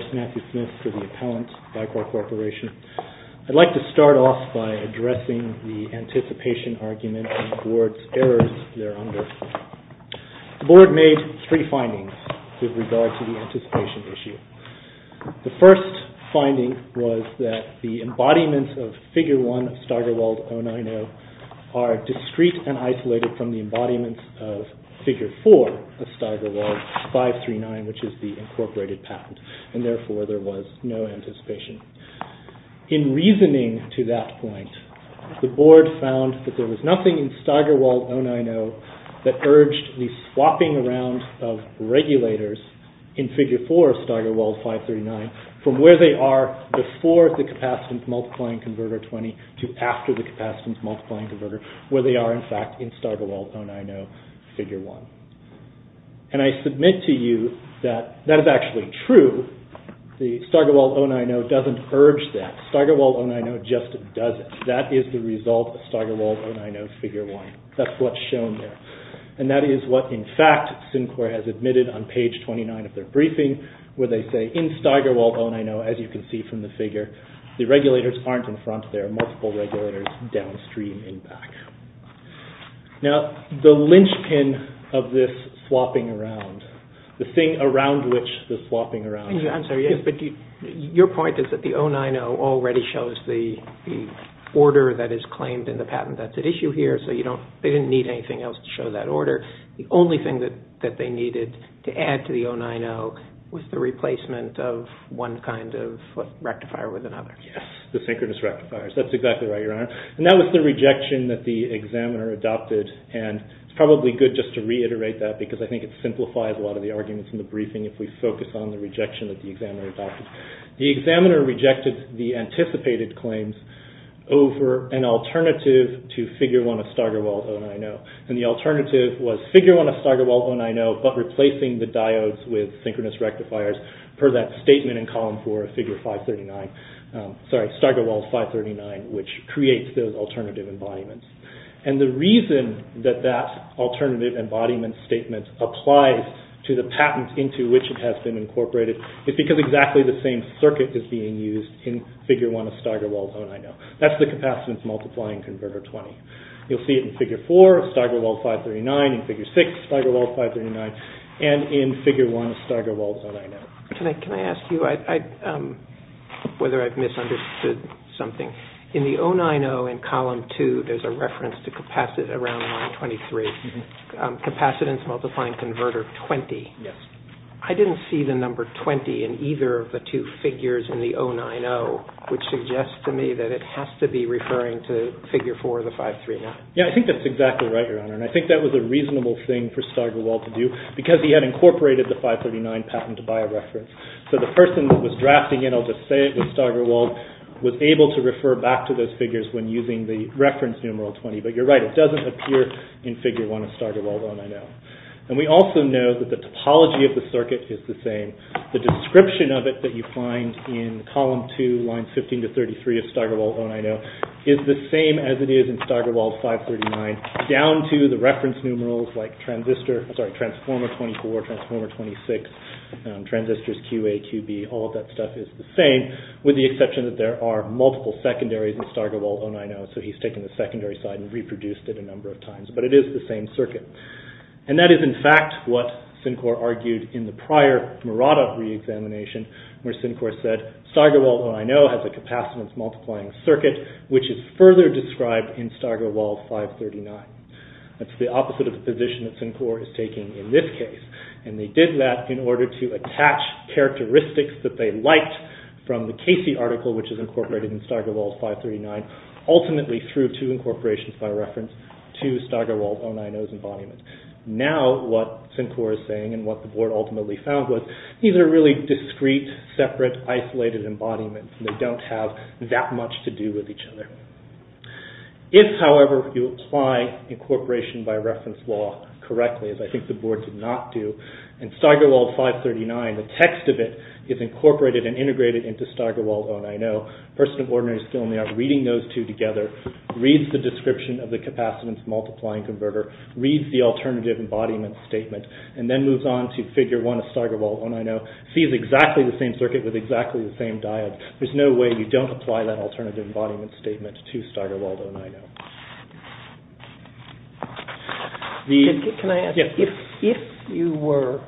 This video is a derivative work of the Center for Autonomous Vehicle Research and Development, Inc. This video is a derivative work of the Center for Autonomous Vehicle Research and Development, Inc. This video is a derivative work of the Center for Autonomous Vehicle Research and Development, Inc. This video is a derivative work of the Center for Autonomous Vehicle Research and Development, Inc. Mr. Smith, I think I didn't say we'll hear argument in BICOR against SynQor 1578. Thank you, Your Honor. May it please the Court, Matthew Smith for the appellant, BICOR Corporation. I'd like to start off by addressing the anticipation argument and the Board's errors there under. The Board made three findings with regard to the anticipation issue. The first finding was that the embodiments of Figure 1 of Steigerwald 090 are discrete and isolated from the embodiments of Figure 4 of Steigerwald 539, which is the incorporated patent, and therefore there was no anticipation. In reasoning to that point, the Board found that there was nothing in Steigerwald 090 that urged the swapping around of regulators in Figure 4 of Steigerwald 539 from where they are before the capacitance-multiplying converter 20 to after the capacitance-multiplying converter, where they are in fact in Steigerwald 090 Figure 1. And I submit to you that that is actually true. The Steigerwald 090 doesn't urge that. Steigerwald 090 just doesn't. That is the result of Steigerwald 090 Figure 1. That's what's shown there. And that is what, in fact, SynQor has admitted on page 29 of their briefing, where they say, in Steigerwald 090, as you can see from the figure, the regulators aren't in front. There are multiple regulators downstream and back. Now, the linchpin of this swapping around, the thing around which the swapping around is. I'm sorry. Your point is that the 090 already shows the order that is claimed in the patent that's at issue here, so they didn't need anything else to show that order. The only thing that they needed to add to the 090 was the replacement of one kind of rectifier with another. Yes, the synchronous rectifiers. That's exactly right, Your Honor. And that was the rejection that the examiner adopted. And it's probably good just to reiterate that because I think it simplifies a lot of the arguments in the briefing if we focus on the rejection that the examiner adopted. The examiner rejected the anticipated claims over an alternative to Figure 1 of Steigerwald 090. And the alternative was Figure 1 of Steigerwald 090, but replacing the diodes with synchronous rectifiers per that statement in column 4 of Figure 539. Sorry, Steigerwald 539, which creates those alternative embodiments. And the reason that that alternative embodiment statement applies to the patent into which it has been incorporated is because exactly the same circuit is being used in Figure 1 of Steigerwald 090. That's the capacitance multiplying converter 20. You'll see it in Figure 4 of Steigerwald 539, in Figure 6 of Steigerwald 539, and in Figure 1 of Steigerwald 090. Can I ask you whether I've misunderstood something? In the 090 in column 2, there's a reference to around line 23, capacitance multiplying converter 20. Yes. I didn't see the number 20 in either of the two figures in the 090, which suggests to me that it has to be referring to Figure 4 of the 539. And I think that was a reasonable thing for Steigerwald to do because he had incorporated the 539 patent by a reference. So the person that was drafting it, I'll just say it was Steigerwald, was able to refer back to those figures when using the reference numeral 20. But you're right, it doesn't appear in Figure 1 of Steigerwald 090. And we also know that the topology of the circuit is the same. The description of it that you find in column 2, lines 15 to 33 of Steigerwald 090, is the same as it is in Steigerwald 539, down to the reference numerals like transistor, sorry, transformer 24, transformer 26, transistors QA, QB, all of that stuff is the same, with the exception that there are multiple secondaries in Steigerwald 090. So he's taken the secondary side and reproduced it a number of times, but it is the same circuit. And that is in fact what Sincor argued in the prior Murata re-examination, where Sincor said Steigerwald 090 has a capacitance-multiplying circuit, which is further described in Steigerwald 539. That's the opposite of the position that Sincor is taking in this case. And they did that in order to attach characteristics that they liked from the Casey article, which is incorporated in Steigerwald 539, ultimately through two incorporations by reference to Steigerwald 090's embodiment. Now what Sincor is saying and what the board ultimately found was, these are really discrete, separate, isolated embodiments, and they don't have that much to do with each other. If, however, you apply incorporation by reference law correctly, as I think the board did not do, in Steigerwald 539, the text of it is incorporated and integrated into Steigerwald 090, a person of ordinary skill in the art reading those two together, reads the description of the capacitance-multiplying converter, reads the alternative embodiment statement, and then moves on to Figure 1 of Steigerwald 090, sees exactly the same circuit with exactly the same diode. There's no way you don't apply that alternative embodiment statement to Steigerwald 090. Can I ask, if you were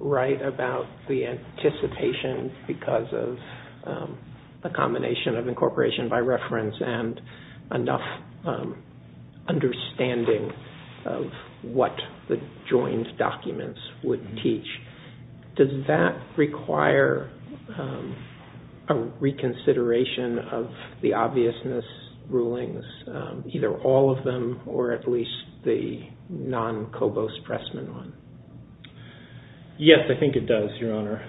right about the anticipation because of a combination of incorporation by reference and enough understanding of what the joined documents would teach, does that require a reconsideration of the obviousness rulings, either all of them or at least the non-Cobos-Pressman one? Yes, I think it does, Your Honor,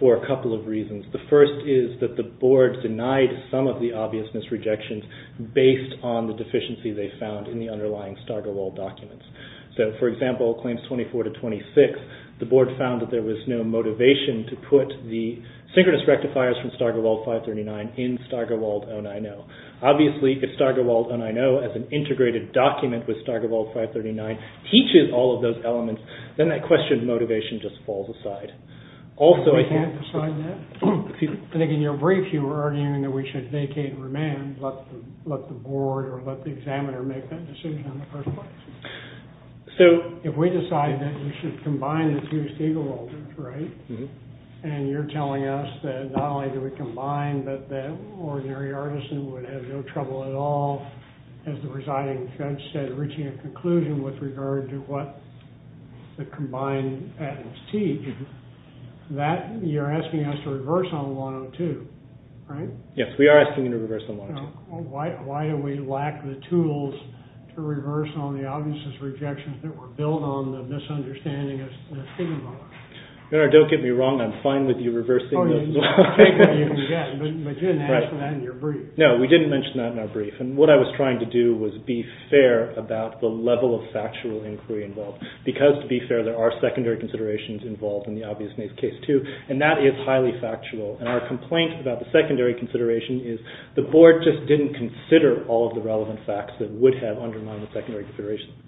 for a couple of reasons. The first is that the board denied some of the obviousness rejections based on the deficiency they found in the underlying Steigerwald documents. So, for example, Claims 24-26, the board found that there was no motivation to put the synchronous rectifiers from Steigerwald 539 in Steigerwald 090. Obviously, if Steigerwald 090, as an integrated document with Steigerwald 539, teaches all of those elements, then that question of motivation just falls aside. I think in your brief you were arguing that we should vacate and remand and let the board or let the examiner make that decision in the first place. If we decide that we should combine the two Steigerwalds, right, and you're telling us that not only do we combine, but that ordinary artisan would have no trouble at all, as the presiding judge said, reaching a conclusion with regard to what the combined addends teach, you're asking us to reverse on 102, right? Yes, we are asking you to reverse on 102. Why do we lack the tools to reverse on the obviousness rejections that were built on the misunderstanding of Steigerwald? Don't get me wrong, I'm fine with you reversing those. But you didn't mention that in your brief. No, we didn't mention that in our brief. And what I was trying to do was be fair about the level of factual inquiry involved. Because, to be fair, there are secondary considerations involved in the obviousness case too, and that is highly factual. And our complaint about the secondary consideration is the board just didn't consider all of the relevant facts that would have undermined the secondary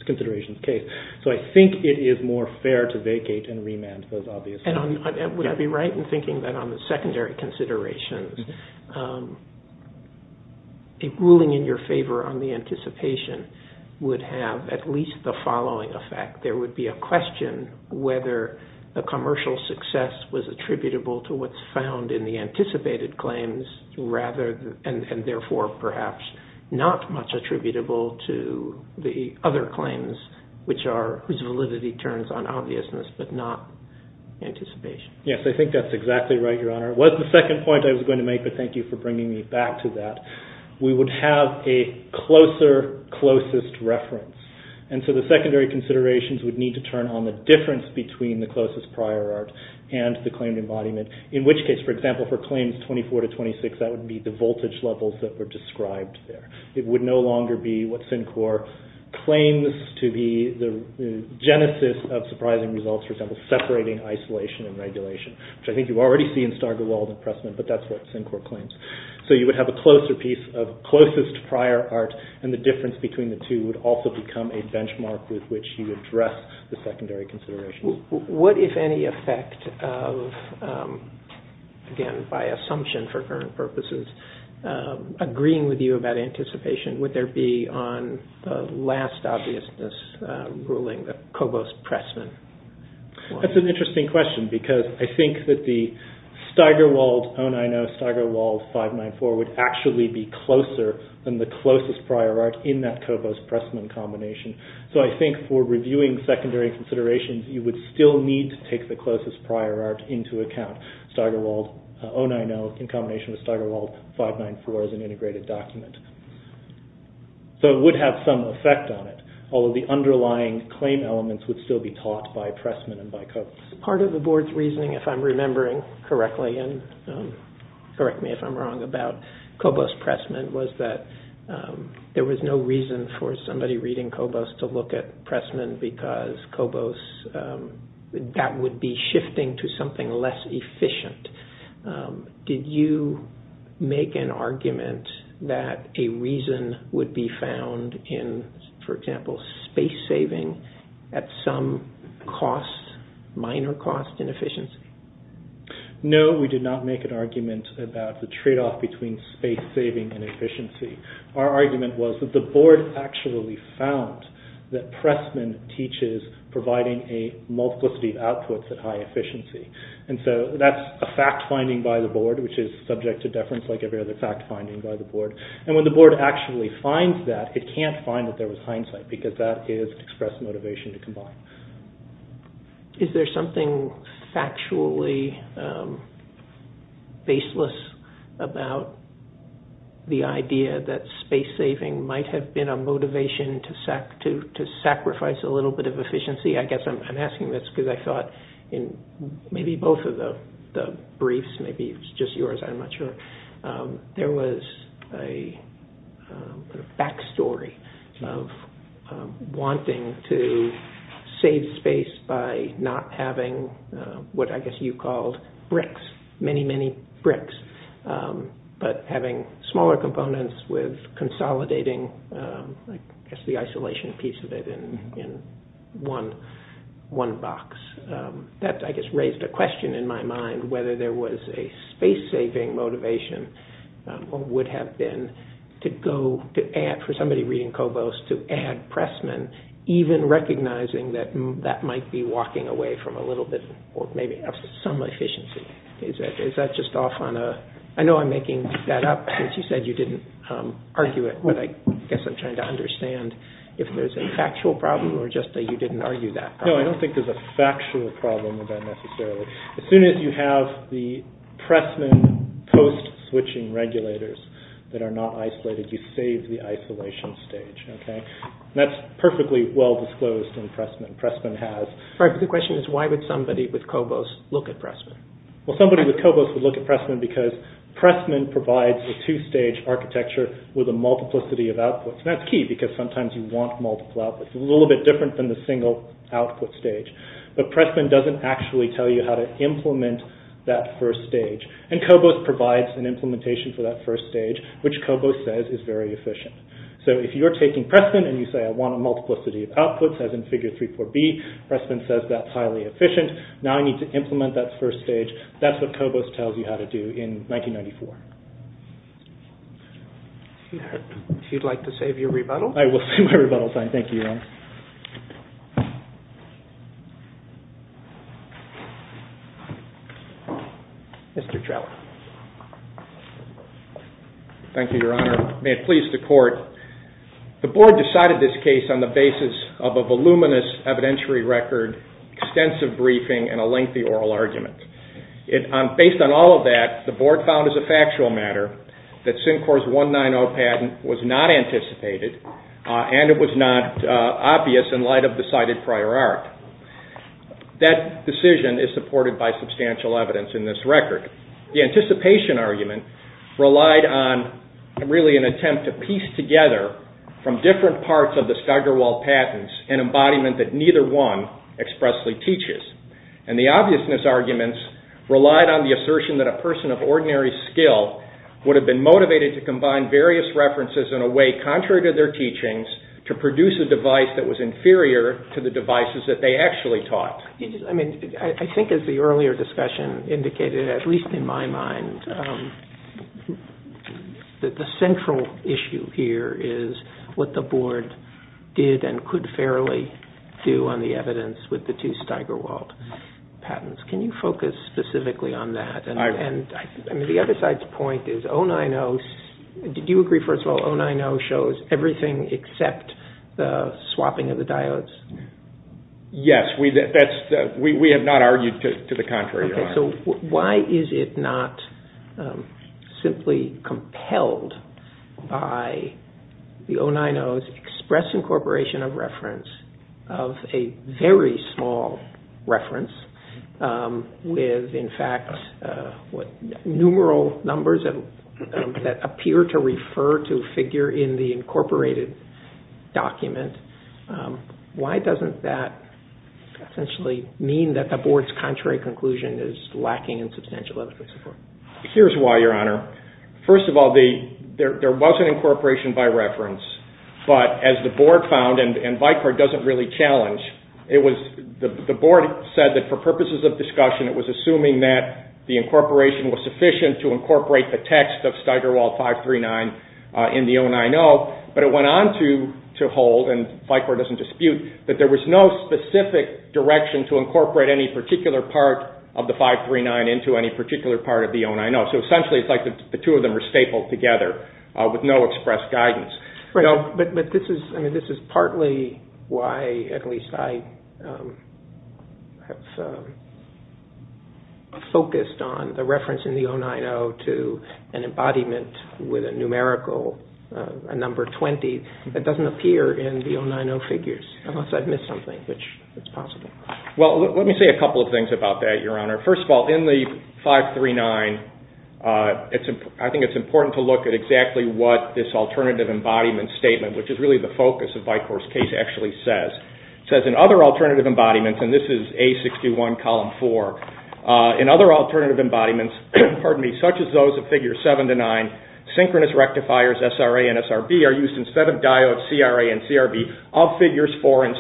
considerations case. So I think it is more fair to vacate and remand those obvious facts. And would I be right in thinking that on the secondary considerations, a ruling in your favor on the anticipation would have at least the following effect. There would be a question whether the commercial success was attributable to what's found in the anticipated claims, and therefore perhaps not much attributable to the other claims whose validity turns on obviousness but not anticipation. Yes, I think that's exactly right, Your Honor. It was the second point I was going to make, but thank you for bringing me back to that. We would have a closer, closest reference. And so the secondary considerations would need to turn on the difference between the closest prior art and the claimed embodiment, in which case, for example, for claims 24 to 26, that would be the voltage levels that were described there. It would no longer be what Syncor claims to be the genesis of surprising results, for example, separating isolation and regulation, which I think you already see in Stargill, Walden, and Pressman, but that's what Syncor claims. So you would have a closer piece of closest prior art, and the difference between the two would also become a benchmark with which you address the secondary considerations. What, if any, effect of, again by assumption for current purposes, agreeing with you about anticipation, would there be on the last obviousness ruling, the Cobos-Pressman? That's an interesting question because I think that the Steigerwald, own I know Steigerwald 594, would actually be closer than the closest prior art in that Cobos-Pressman combination. So I think for reviewing secondary considerations, you would still need to take the closest prior art into account. Steigerwald, own I know, in combination with Steigerwald 594 as an integrated document. So it would have some effect on it, although the underlying claim elements would still be taught by Pressman and by Cobos. Part of the board's reasoning, if I'm remembering correctly, and correct me if I'm wrong about Cobos-Pressman, was that there was no reason for somebody reading Cobos to look at Pressman because Cobos, that would be shifting to something less efficient. Did you make an argument that a reason would be found in, for example, space saving at some cost, minor cost in efficiency? No, we did not make an argument about the tradeoff between space saving and efficiency. Our argument was that the board actually found that Pressman teaches providing a multiplicity of outputs at high efficiency. And so that's a fact-finding by the board, which is subject to deference like every other fact-finding by the board. And when the board actually finds that, it can't find that there was hindsight because that is expressed motivation to combine. Is there something factually baseless about the idea that space saving might have been a motivation to sacrifice a little bit of efficiency? I guess I'm asking this because I thought in maybe both of the briefs, maybe it's just yours, I'm not sure, there was a back story of wanting to save space by not having what I guess you called bricks, many, many bricks, but having smaller components with consolidating, I guess the isolation piece of it in one box. That, I guess, raised a question in my mind as to whether there was a space-saving motivation or would have been for somebody reading Kobos to add Pressman, even recognizing that that might be walking away from a little bit or maybe some efficiency. Is that just off on a... I know I'm making that up since you said you didn't argue it, but I guess I'm trying to understand if there's a factual problem or just that you didn't argue that. No, I don't think there's a factual problem with that necessarily. As soon as you have the Pressman post-switching regulators that are not isolated, you save the isolation stage. That's perfectly well-disclosed in Pressman. The question is why would somebody with Kobos look at Pressman? Well, somebody with Kobos would look at Pressman because Pressman provides a two-stage architecture with a multiplicity of outputs. That's key because sometimes you want multiple outputs. It's a little bit different than the single output stage. But Pressman doesn't actually tell you how to implement that first stage. And Kobos provides an implementation for that first stage, which Kobos says is very efficient. So if you're taking Pressman and you say, I want a multiplicity of outputs, as in Figure 3.4b, Pressman says that's highly efficient. Now I need to implement that first stage. That's what Kobos tells you how to do in 1994. If you'd like to save your rebuttal. I will save my rebuttal sign. Thank you. Mr. Trella. Thank you, Your Honor. May it please the Court. The Board decided this case on the basis of a voluminous evidentiary record, extensive briefing, and a lengthy oral argument. Based on all of that, the Board found as a factual matter that Syncor's 190 patent was not anticipated and it was not obvious in light of the cited prior art. That decision is supported by substantial evidence in this record. The anticipation argument relied on really an attempt to piece together from different parts of the Stigerwald patents an embodiment that neither one expressly teaches. And the obviousness arguments relied on the assertion that a person of ordinary skill would have been motivated to combine various references in a way contrary to their teachings to produce a device that was inferior to the devices that they actually taught. I think as the earlier discussion indicated, at least in my mind, that the central issue here is what the Board did and could fairly do on the evidence with the two Stigerwald patents. Can you focus specifically on that? The other side's point is, did you agree, first of all, that the 090 shows everything except the swapping of the diodes? Yes, we have not argued to the contrary. Okay, so why is it not simply compelled by the 090's express incorporation of reference of a very small reference with, in fact, numeral numbers that appear to refer to a figure in the incorporated document? Why doesn't that essentially mean that the Board's contrary conclusion is lacking in substantial evidence? Here's why, Your Honor. First of all, there was an incorporation by reference, but as the Board found, and Vicar doesn't really challenge, the Board said that for purposes of discussion, it was assuming that the incorporation was sufficient to incorporate the text of Stigerwald 539 in the 090, but it went on to hold, and Vicar doesn't dispute, that there was no specific direction to incorporate any particular part of the 539 into any particular part of the 090. So essentially, it's like the two of them were stapled together with no expressed guidance. But this is partly why, at least, I have focused on the reference in the 090 to an embodiment with a numerical, a number 20, that doesn't appear in the 090 figures, unless I've missed something, which is possible. Well, let me say a couple of things about that, Your Honor. First of all, in the 539, I think it's important to look at exactly what this alternative embodiment statement, which is really the focus of Vicar's case, actually says. It says, in other alternative embodiments, and this is A61, Column 4, in other alternative embodiments, such as those of Figures 7 to 9, synchronous rectifiers SRA and SRB are used instead of diodes CRA and CRB of Figures 4 and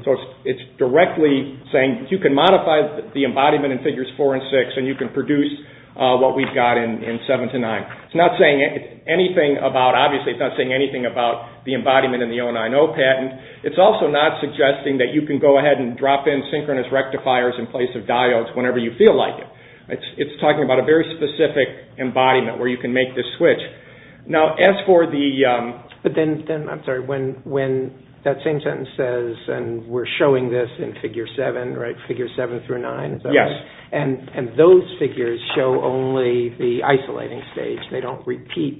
6. So it's directly saying you can modify the embodiment in Figures 4 and 6 and you can produce what we've got in 7 to 9. Obviously, it's not saying anything about the embodiment in the 090 patent. It's also not suggesting that you can go ahead and drop in synchronous rectifiers in place of diodes whenever you feel like it. It's talking about a very specific embodiment where you can make this switch. Now, as for the... But then, I'm sorry, when that same sentence says, and we're showing this in Figure 7, right, Figure 7 through 9? Yes. And those figures show only the isolating stage. They don't repeat,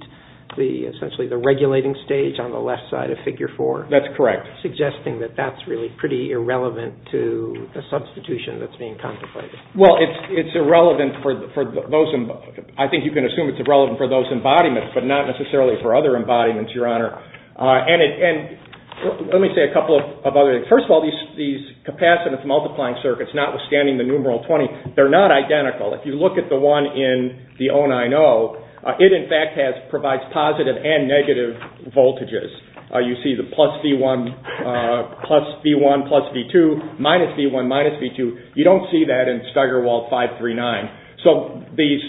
essentially, the regulating stage on the left side of Figure 4? That's correct. Suggesting that that's really pretty irrelevant to the substitution that's being contemplated. Well, it's irrelevant for those... I think you can assume it's irrelevant for those embodiments, but not necessarily for other embodiments, Your Honor. And let me say a couple of other things. First of all, these capacitance-multiplying circuits, notwithstanding the numeral 20, they're not identical. If you look at the one in the 090, it, in fact, provides positive and negative voltages. You see the plus V1, plus V1, plus V2, minus V1, minus V2. You don't see that in Steigerwald 539. So these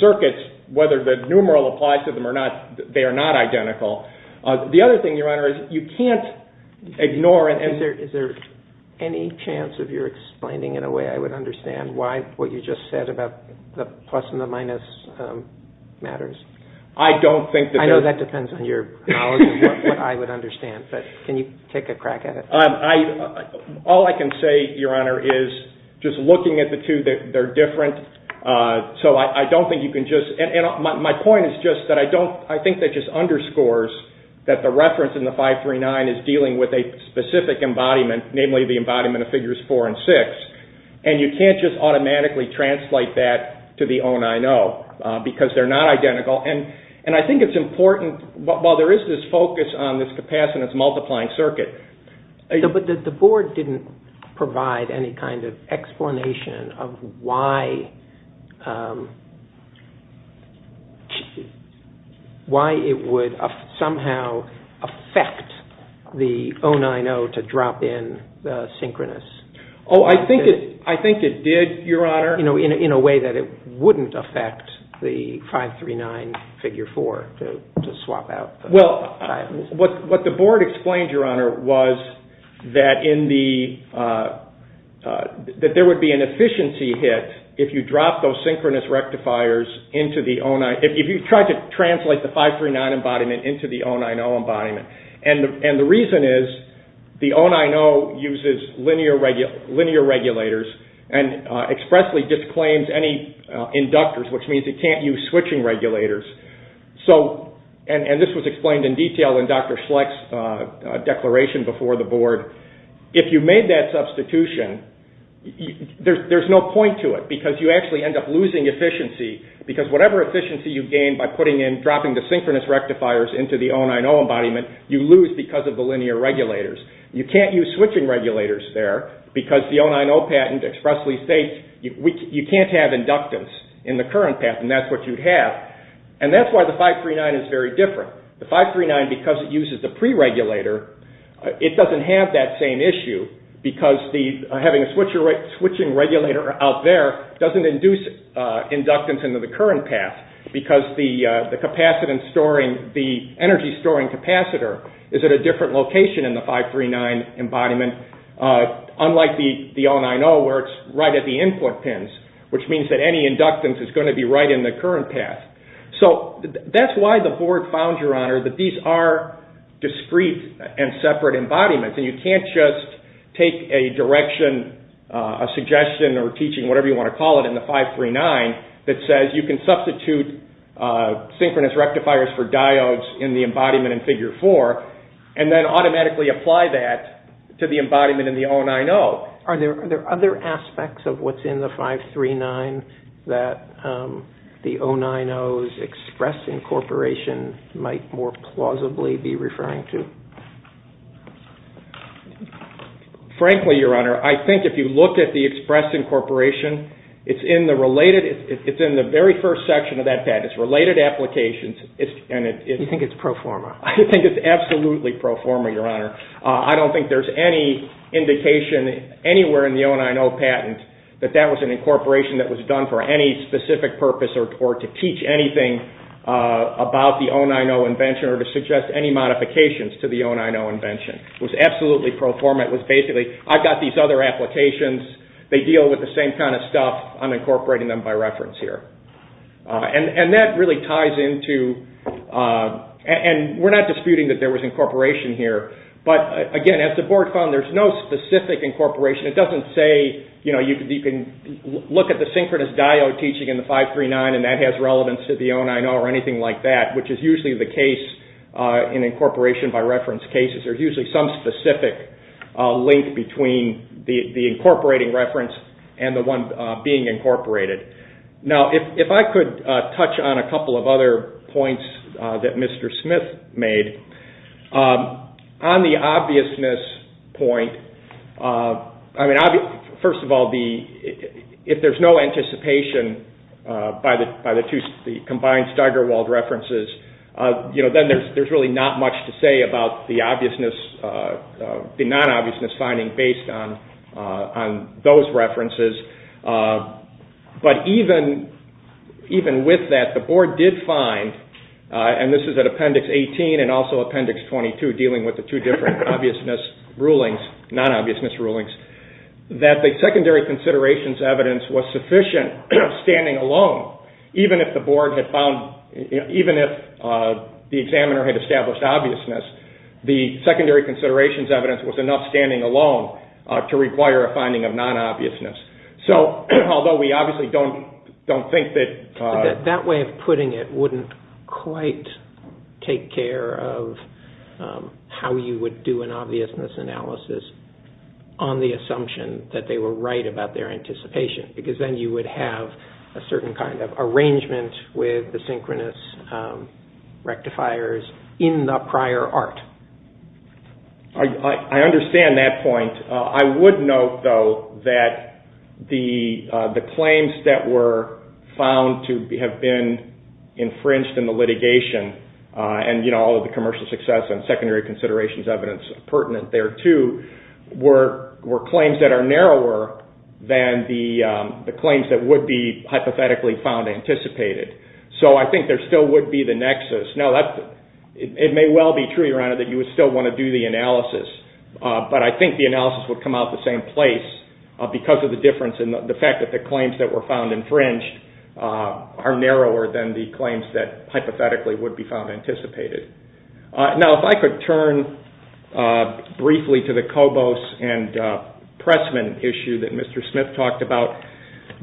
circuits, whether the numeral applies to them or not, they are not identical. The other thing, Your Honor, is you can't ignore... Is there any chance, if you're explaining it in a way I would understand, why what you just said about the plus and the minus matters? I don't think that... I know that depends on your knowledge of what I would understand, but can you take a crack at it? All I can say, Your Honor, is just looking at the two, they're different. So I don't think you can just... My point is just that I think that just underscores that the reference in the 539 is dealing with a specific embodiment, namely the embodiment of figures 4 and 6, and you can't just automatically translate that to the 090 because they're not identical. And I think it's important, while there is this focus on this capacitance-multiplying circuit... But the board didn't provide any kind of explanation of why it would somehow affect the 090 to drop in the synchronous. Oh, I think it did, Your Honor. In a way that it wouldn't affect the 539 figure 4 to swap out. Well, what the board explained, Your Honor, was that there would be an efficiency hit if you tried to translate the 539 embodiment into the 090 embodiment. And the reason is the 090 uses linear regulators and expressly disclaims any inductors, which means it can't use switching regulators. And this was explained in detail in Dr. Schlecht's declaration before the board. If you made that substitution, there's no point to it because you actually end up losing efficiency because whatever efficiency you gain by dropping the synchronous rectifiers into the 090 embodiment, you lose because of the linear regulators. You can't use switching regulators there because the 090 patent expressly states you can't have inductance in the current patent. And that's what you'd have. And that's why the 539 is very different. The 539, because it uses the pre-regulator, it doesn't have that same issue because having a switching regulator out there doesn't induce inductance into the current path because the energy storing capacitor is at a different location in the 539 embodiment unlike the 090 where it's right at the input pins, which means that any inductance is going to be right in the current path. So that's why the board found, Your Honor, that these are discrete and separate embodiments. And you can't just take a direction, a suggestion or teaching, whatever you want to call it, in the 539 that says you can substitute synchronous rectifiers for diodes in the embodiment in Figure 4 and then automatically apply that to the embodiment in the 090. Are there other aspects of what's in the 539 that the 090's express incorporation might more plausibly be referring to? Frankly, Your Honor, I think if you look at the express incorporation, it's in the very first section of that patent. It's related applications. You think it's pro forma. I think it's absolutely pro forma, Your Honor. I don't think there's any indication anywhere in the 090 patent that that was an incorporation that was done for any specific purpose or to teach anything about the 090 invention or to suggest any modifications to the 090 invention. It was absolutely pro forma. It was basically, I've got these other applications. They deal with the same kind of stuff. I'm incorporating them by reference here. And that really ties into, and we're not disputing that there was incorporation here, but again, as the board found, there's no specific incorporation. It doesn't say you can look at the synchronous diode teaching in the 539 and that has relevance to the 090 or anything like that, which is usually the case in incorporation by reference cases. There's usually some specific link between the incorporating reference and the one being incorporated. Now, if I could touch on a couple of other points that Mr. Smith made. On the obviousness point, first of all, if there's no anticipation by the combined Steigerwald references, then there's really not much to say about the obviousness, the non-obviousness finding based on those references. But even with that, the board did find, and this is at Appendix 18 and also Appendix 22, dealing with the two different non-obviousness rulings, that the secondary considerations evidence was sufficient standing alone, even if the board had found, even if the examiner had established obviousness, the secondary considerations evidence was enough standing alone to require a finding of non-obviousness. So, although we obviously don't think that... quite take care of how you would do an obviousness analysis on the assumption that they were right about their anticipation, because then you would have a certain kind of arrangement with the synchronous rectifiers in the prior art. I understand that point. I would note, though, that the claims that were found to have been infringed in the litigation, and all of the commercial success and secondary considerations evidence pertinent there, too, were claims that are narrower than the claims that would be hypothetically found anticipated. So I think there still would be the nexus. Now, it may well be true, Your Honor, that you would still want to do the analysis, but I think the analysis would come out the same place because of the difference in the fact that the claims that were found infringed are narrower than the claims that hypothetically would be found anticipated. Now, if I could turn briefly to the Cobos and Pressman issue that Mr. Smith talked about,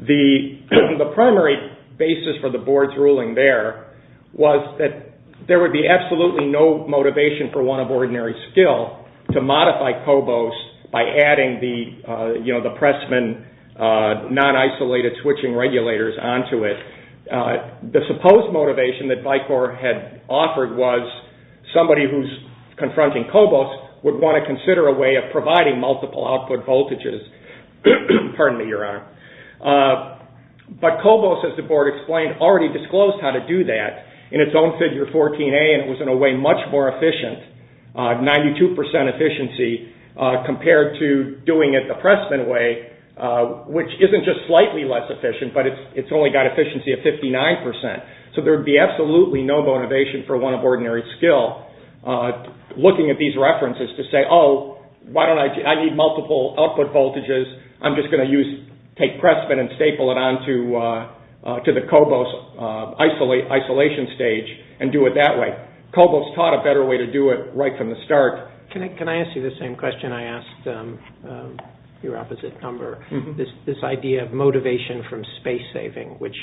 the primary basis for the Board's ruling there was that there would be absolutely no motivation for one of ordinary skill to modify Cobos by adding the Pressman non-isolated switching regulators onto it. The supposed motivation that BICOR had offered was somebody who's confronting Cobos would want to consider a way of providing multiple output voltages. Pardon me, Your Honor. But Cobos, as the Board explained, already disclosed how to do that in its own Figure 14a, and it was in a way much more efficient, 92% efficiency, compared to doing it the Pressman way, which isn't just slightly less efficient, but it's only got efficiency of 59%. So there would be absolutely no motivation for one of ordinary skill looking at these references to say, oh, I need multiple output voltages. I'm just going to take Pressman and staple it onto the Cobos isolation stage and do it that way. But Cobos taught a better way to do it right from the start. Can I ask you the same question I asked your opposite number? This idea of motivation from space saving, which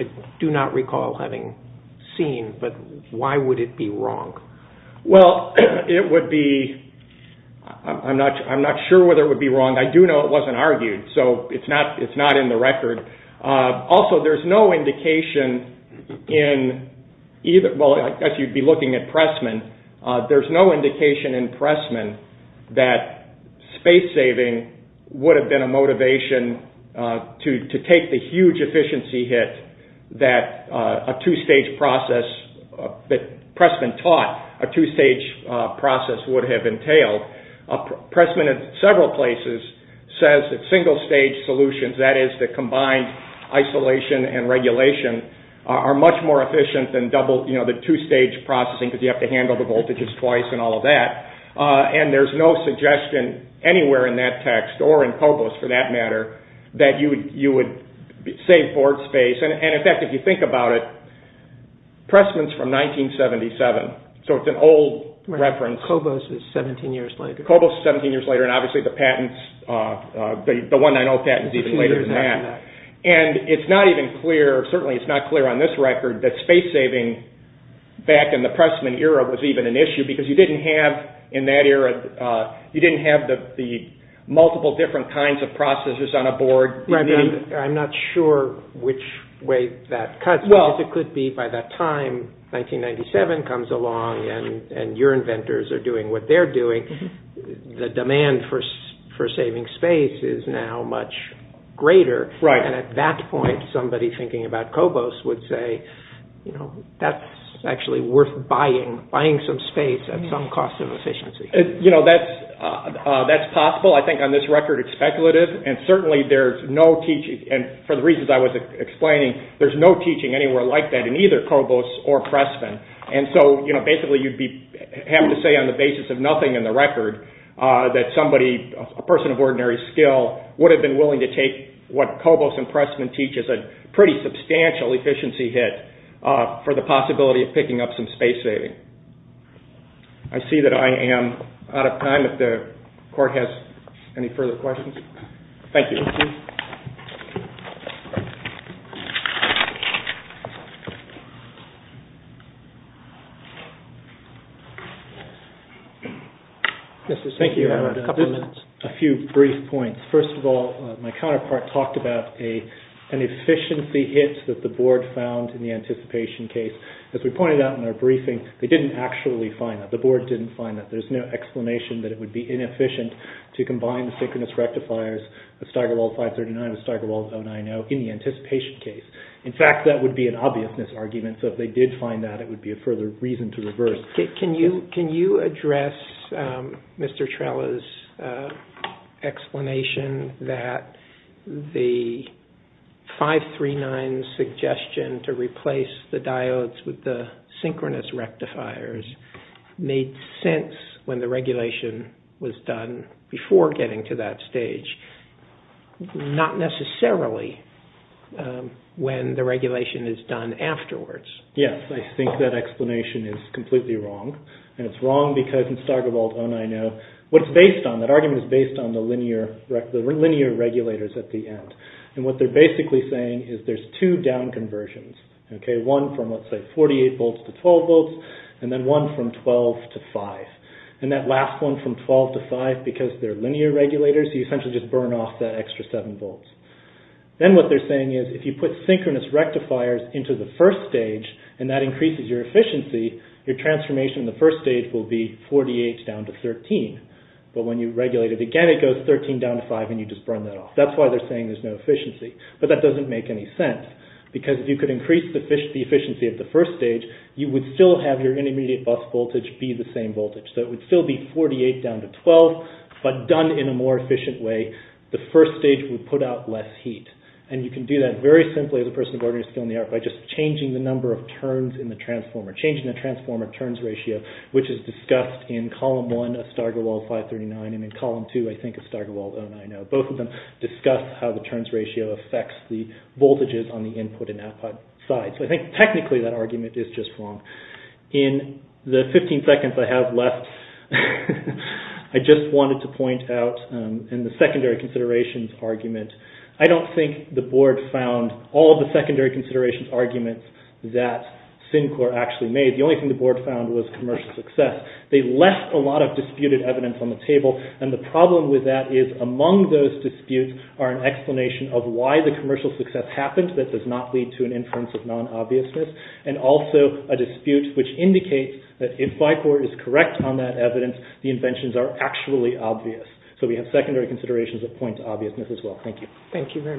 I do not recall having seen, but why would it be wrong? Well, it would be... I'm not sure whether it would be wrong. I do know it wasn't argued, so it's not in the record. Also, there's no indication in either... Well, as you'd be looking at Pressman, there's no indication in Pressman that space saving would have been a motivation to take the huge efficiency hit that a two-stage process that Pressman taught, a two-stage process would have entailed. Pressman, in several places, says that single stage solutions, that is the combined isolation and regulation, are much more efficient than the two-stage processing because you have to handle the voltages twice and all of that. And there's no suggestion anywhere in that text, or in Cobos for that matter, that you would save board space. And in fact, if you think about it, Pressman's from 1977, so it's an old reference. Cobos is 17 years later. Cobos is 17 years later, and obviously the patents, the 190 patents even later than that. And it's not even clear, certainly it's not clear on this record, that space saving back in the Pressman era was even an issue because you didn't have, in that era, you didn't have the multiple different kinds of processes on a board. Right, but I'm not sure which way that cuts. Well. Because it could be by that time, 1997 comes along, and your inventors are doing what they're doing. The demand for saving space is now much greater. Right. And at that point, somebody thinking about Cobos would say, that's actually worth buying, buying some space at some cost of efficiency. You know, that's possible. I think on this record it's speculative. And certainly there's no teaching, and for the reasons I was explaining, there's no teaching anywhere like that in either Cobos or Pressman. And so basically you'd have to say on the basis of nothing in the record that somebody, a person of ordinary skill, would have been willing to take what Cobos and Pressman teach as a pretty substantial efficiency hit for the possibility of picking up some space saving. I see that I am out of time, if the court has any further questions. Thank you. Thank you. I have a couple of minutes. A few brief points. First of all, my counterpart talked about an efficiency hit that the board found in the anticipation case. As we pointed out in our briefing, they didn't actually find that. The board didn't find that. There's no explanation that it would be inefficient to combine the synchronous rectifiers of Steigerwald 539 with Steigerwald 090 in the anticipation case. In fact, that would be an obvious misargument. So if they did find that, it would be a further reason to reverse. Can you address Mr. Trella's explanation that the 539 suggestion to replace the diodes with the synchronous rectifiers made sense when the regulation was done before getting to that stage, not necessarily when the regulation is done afterwards? Yes. I think that explanation is completely wrong. And it's wrong because in Steigerwald 090, what it's based on, that argument is based on the linear regulators at the end. And what they're basically saying is there's two down conversions. One from, let's say, 48 volts to 12 volts, and then one from 12 to 5. And that last one from 12 to 5, because they're linear regulators, you essentially just burn off that extra 7 volts. Then what they're saying is if you put synchronous rectifiers into the first stage and that increases your efficiency, your transformation in the first stage will be 48 down to 13. But when you regulate it again, it goes 13 down to 5, and you just burn that off. That's why they're saying there's no efficiency. But that doesn't make any sense because if you could increase the efficiency at the first stage, you would still have your intermediate bus voltage be the same voltage. So it would still be 48 down to 12, but done in a more efficient way, the first stage would put out less heat. And you can do that very simply as a person of ordinary skill in the art by just changing the number of turns in the transformer, changing the transformer turns ratio, which is discussed in column one of Steigerwald 539 and in column two, I think, of Steigerwald 099. Both of them discuss how the turns ratio affects the voltages on the input and output side. So I think technically that argument is just wrong. In the 15 seconds I have left, I just wanted to point out in the secondary considerations argument, I don't think the board found all of the secondary considerations arguments that SYNCOR actually made. The only thing the board found was commercial success. They left a lot of disputed evidence on the table and the problem with that is among those disputes are an explanation of why the commercial success happened that does not lead to an inference of non-obviousness and also a dispute which indicates that if FICOR is correct on that evidence, the inventions are actually obvious. So we have secondary considerations that point to obviousness as well. Thank you. Thank you very much. Case is submitted.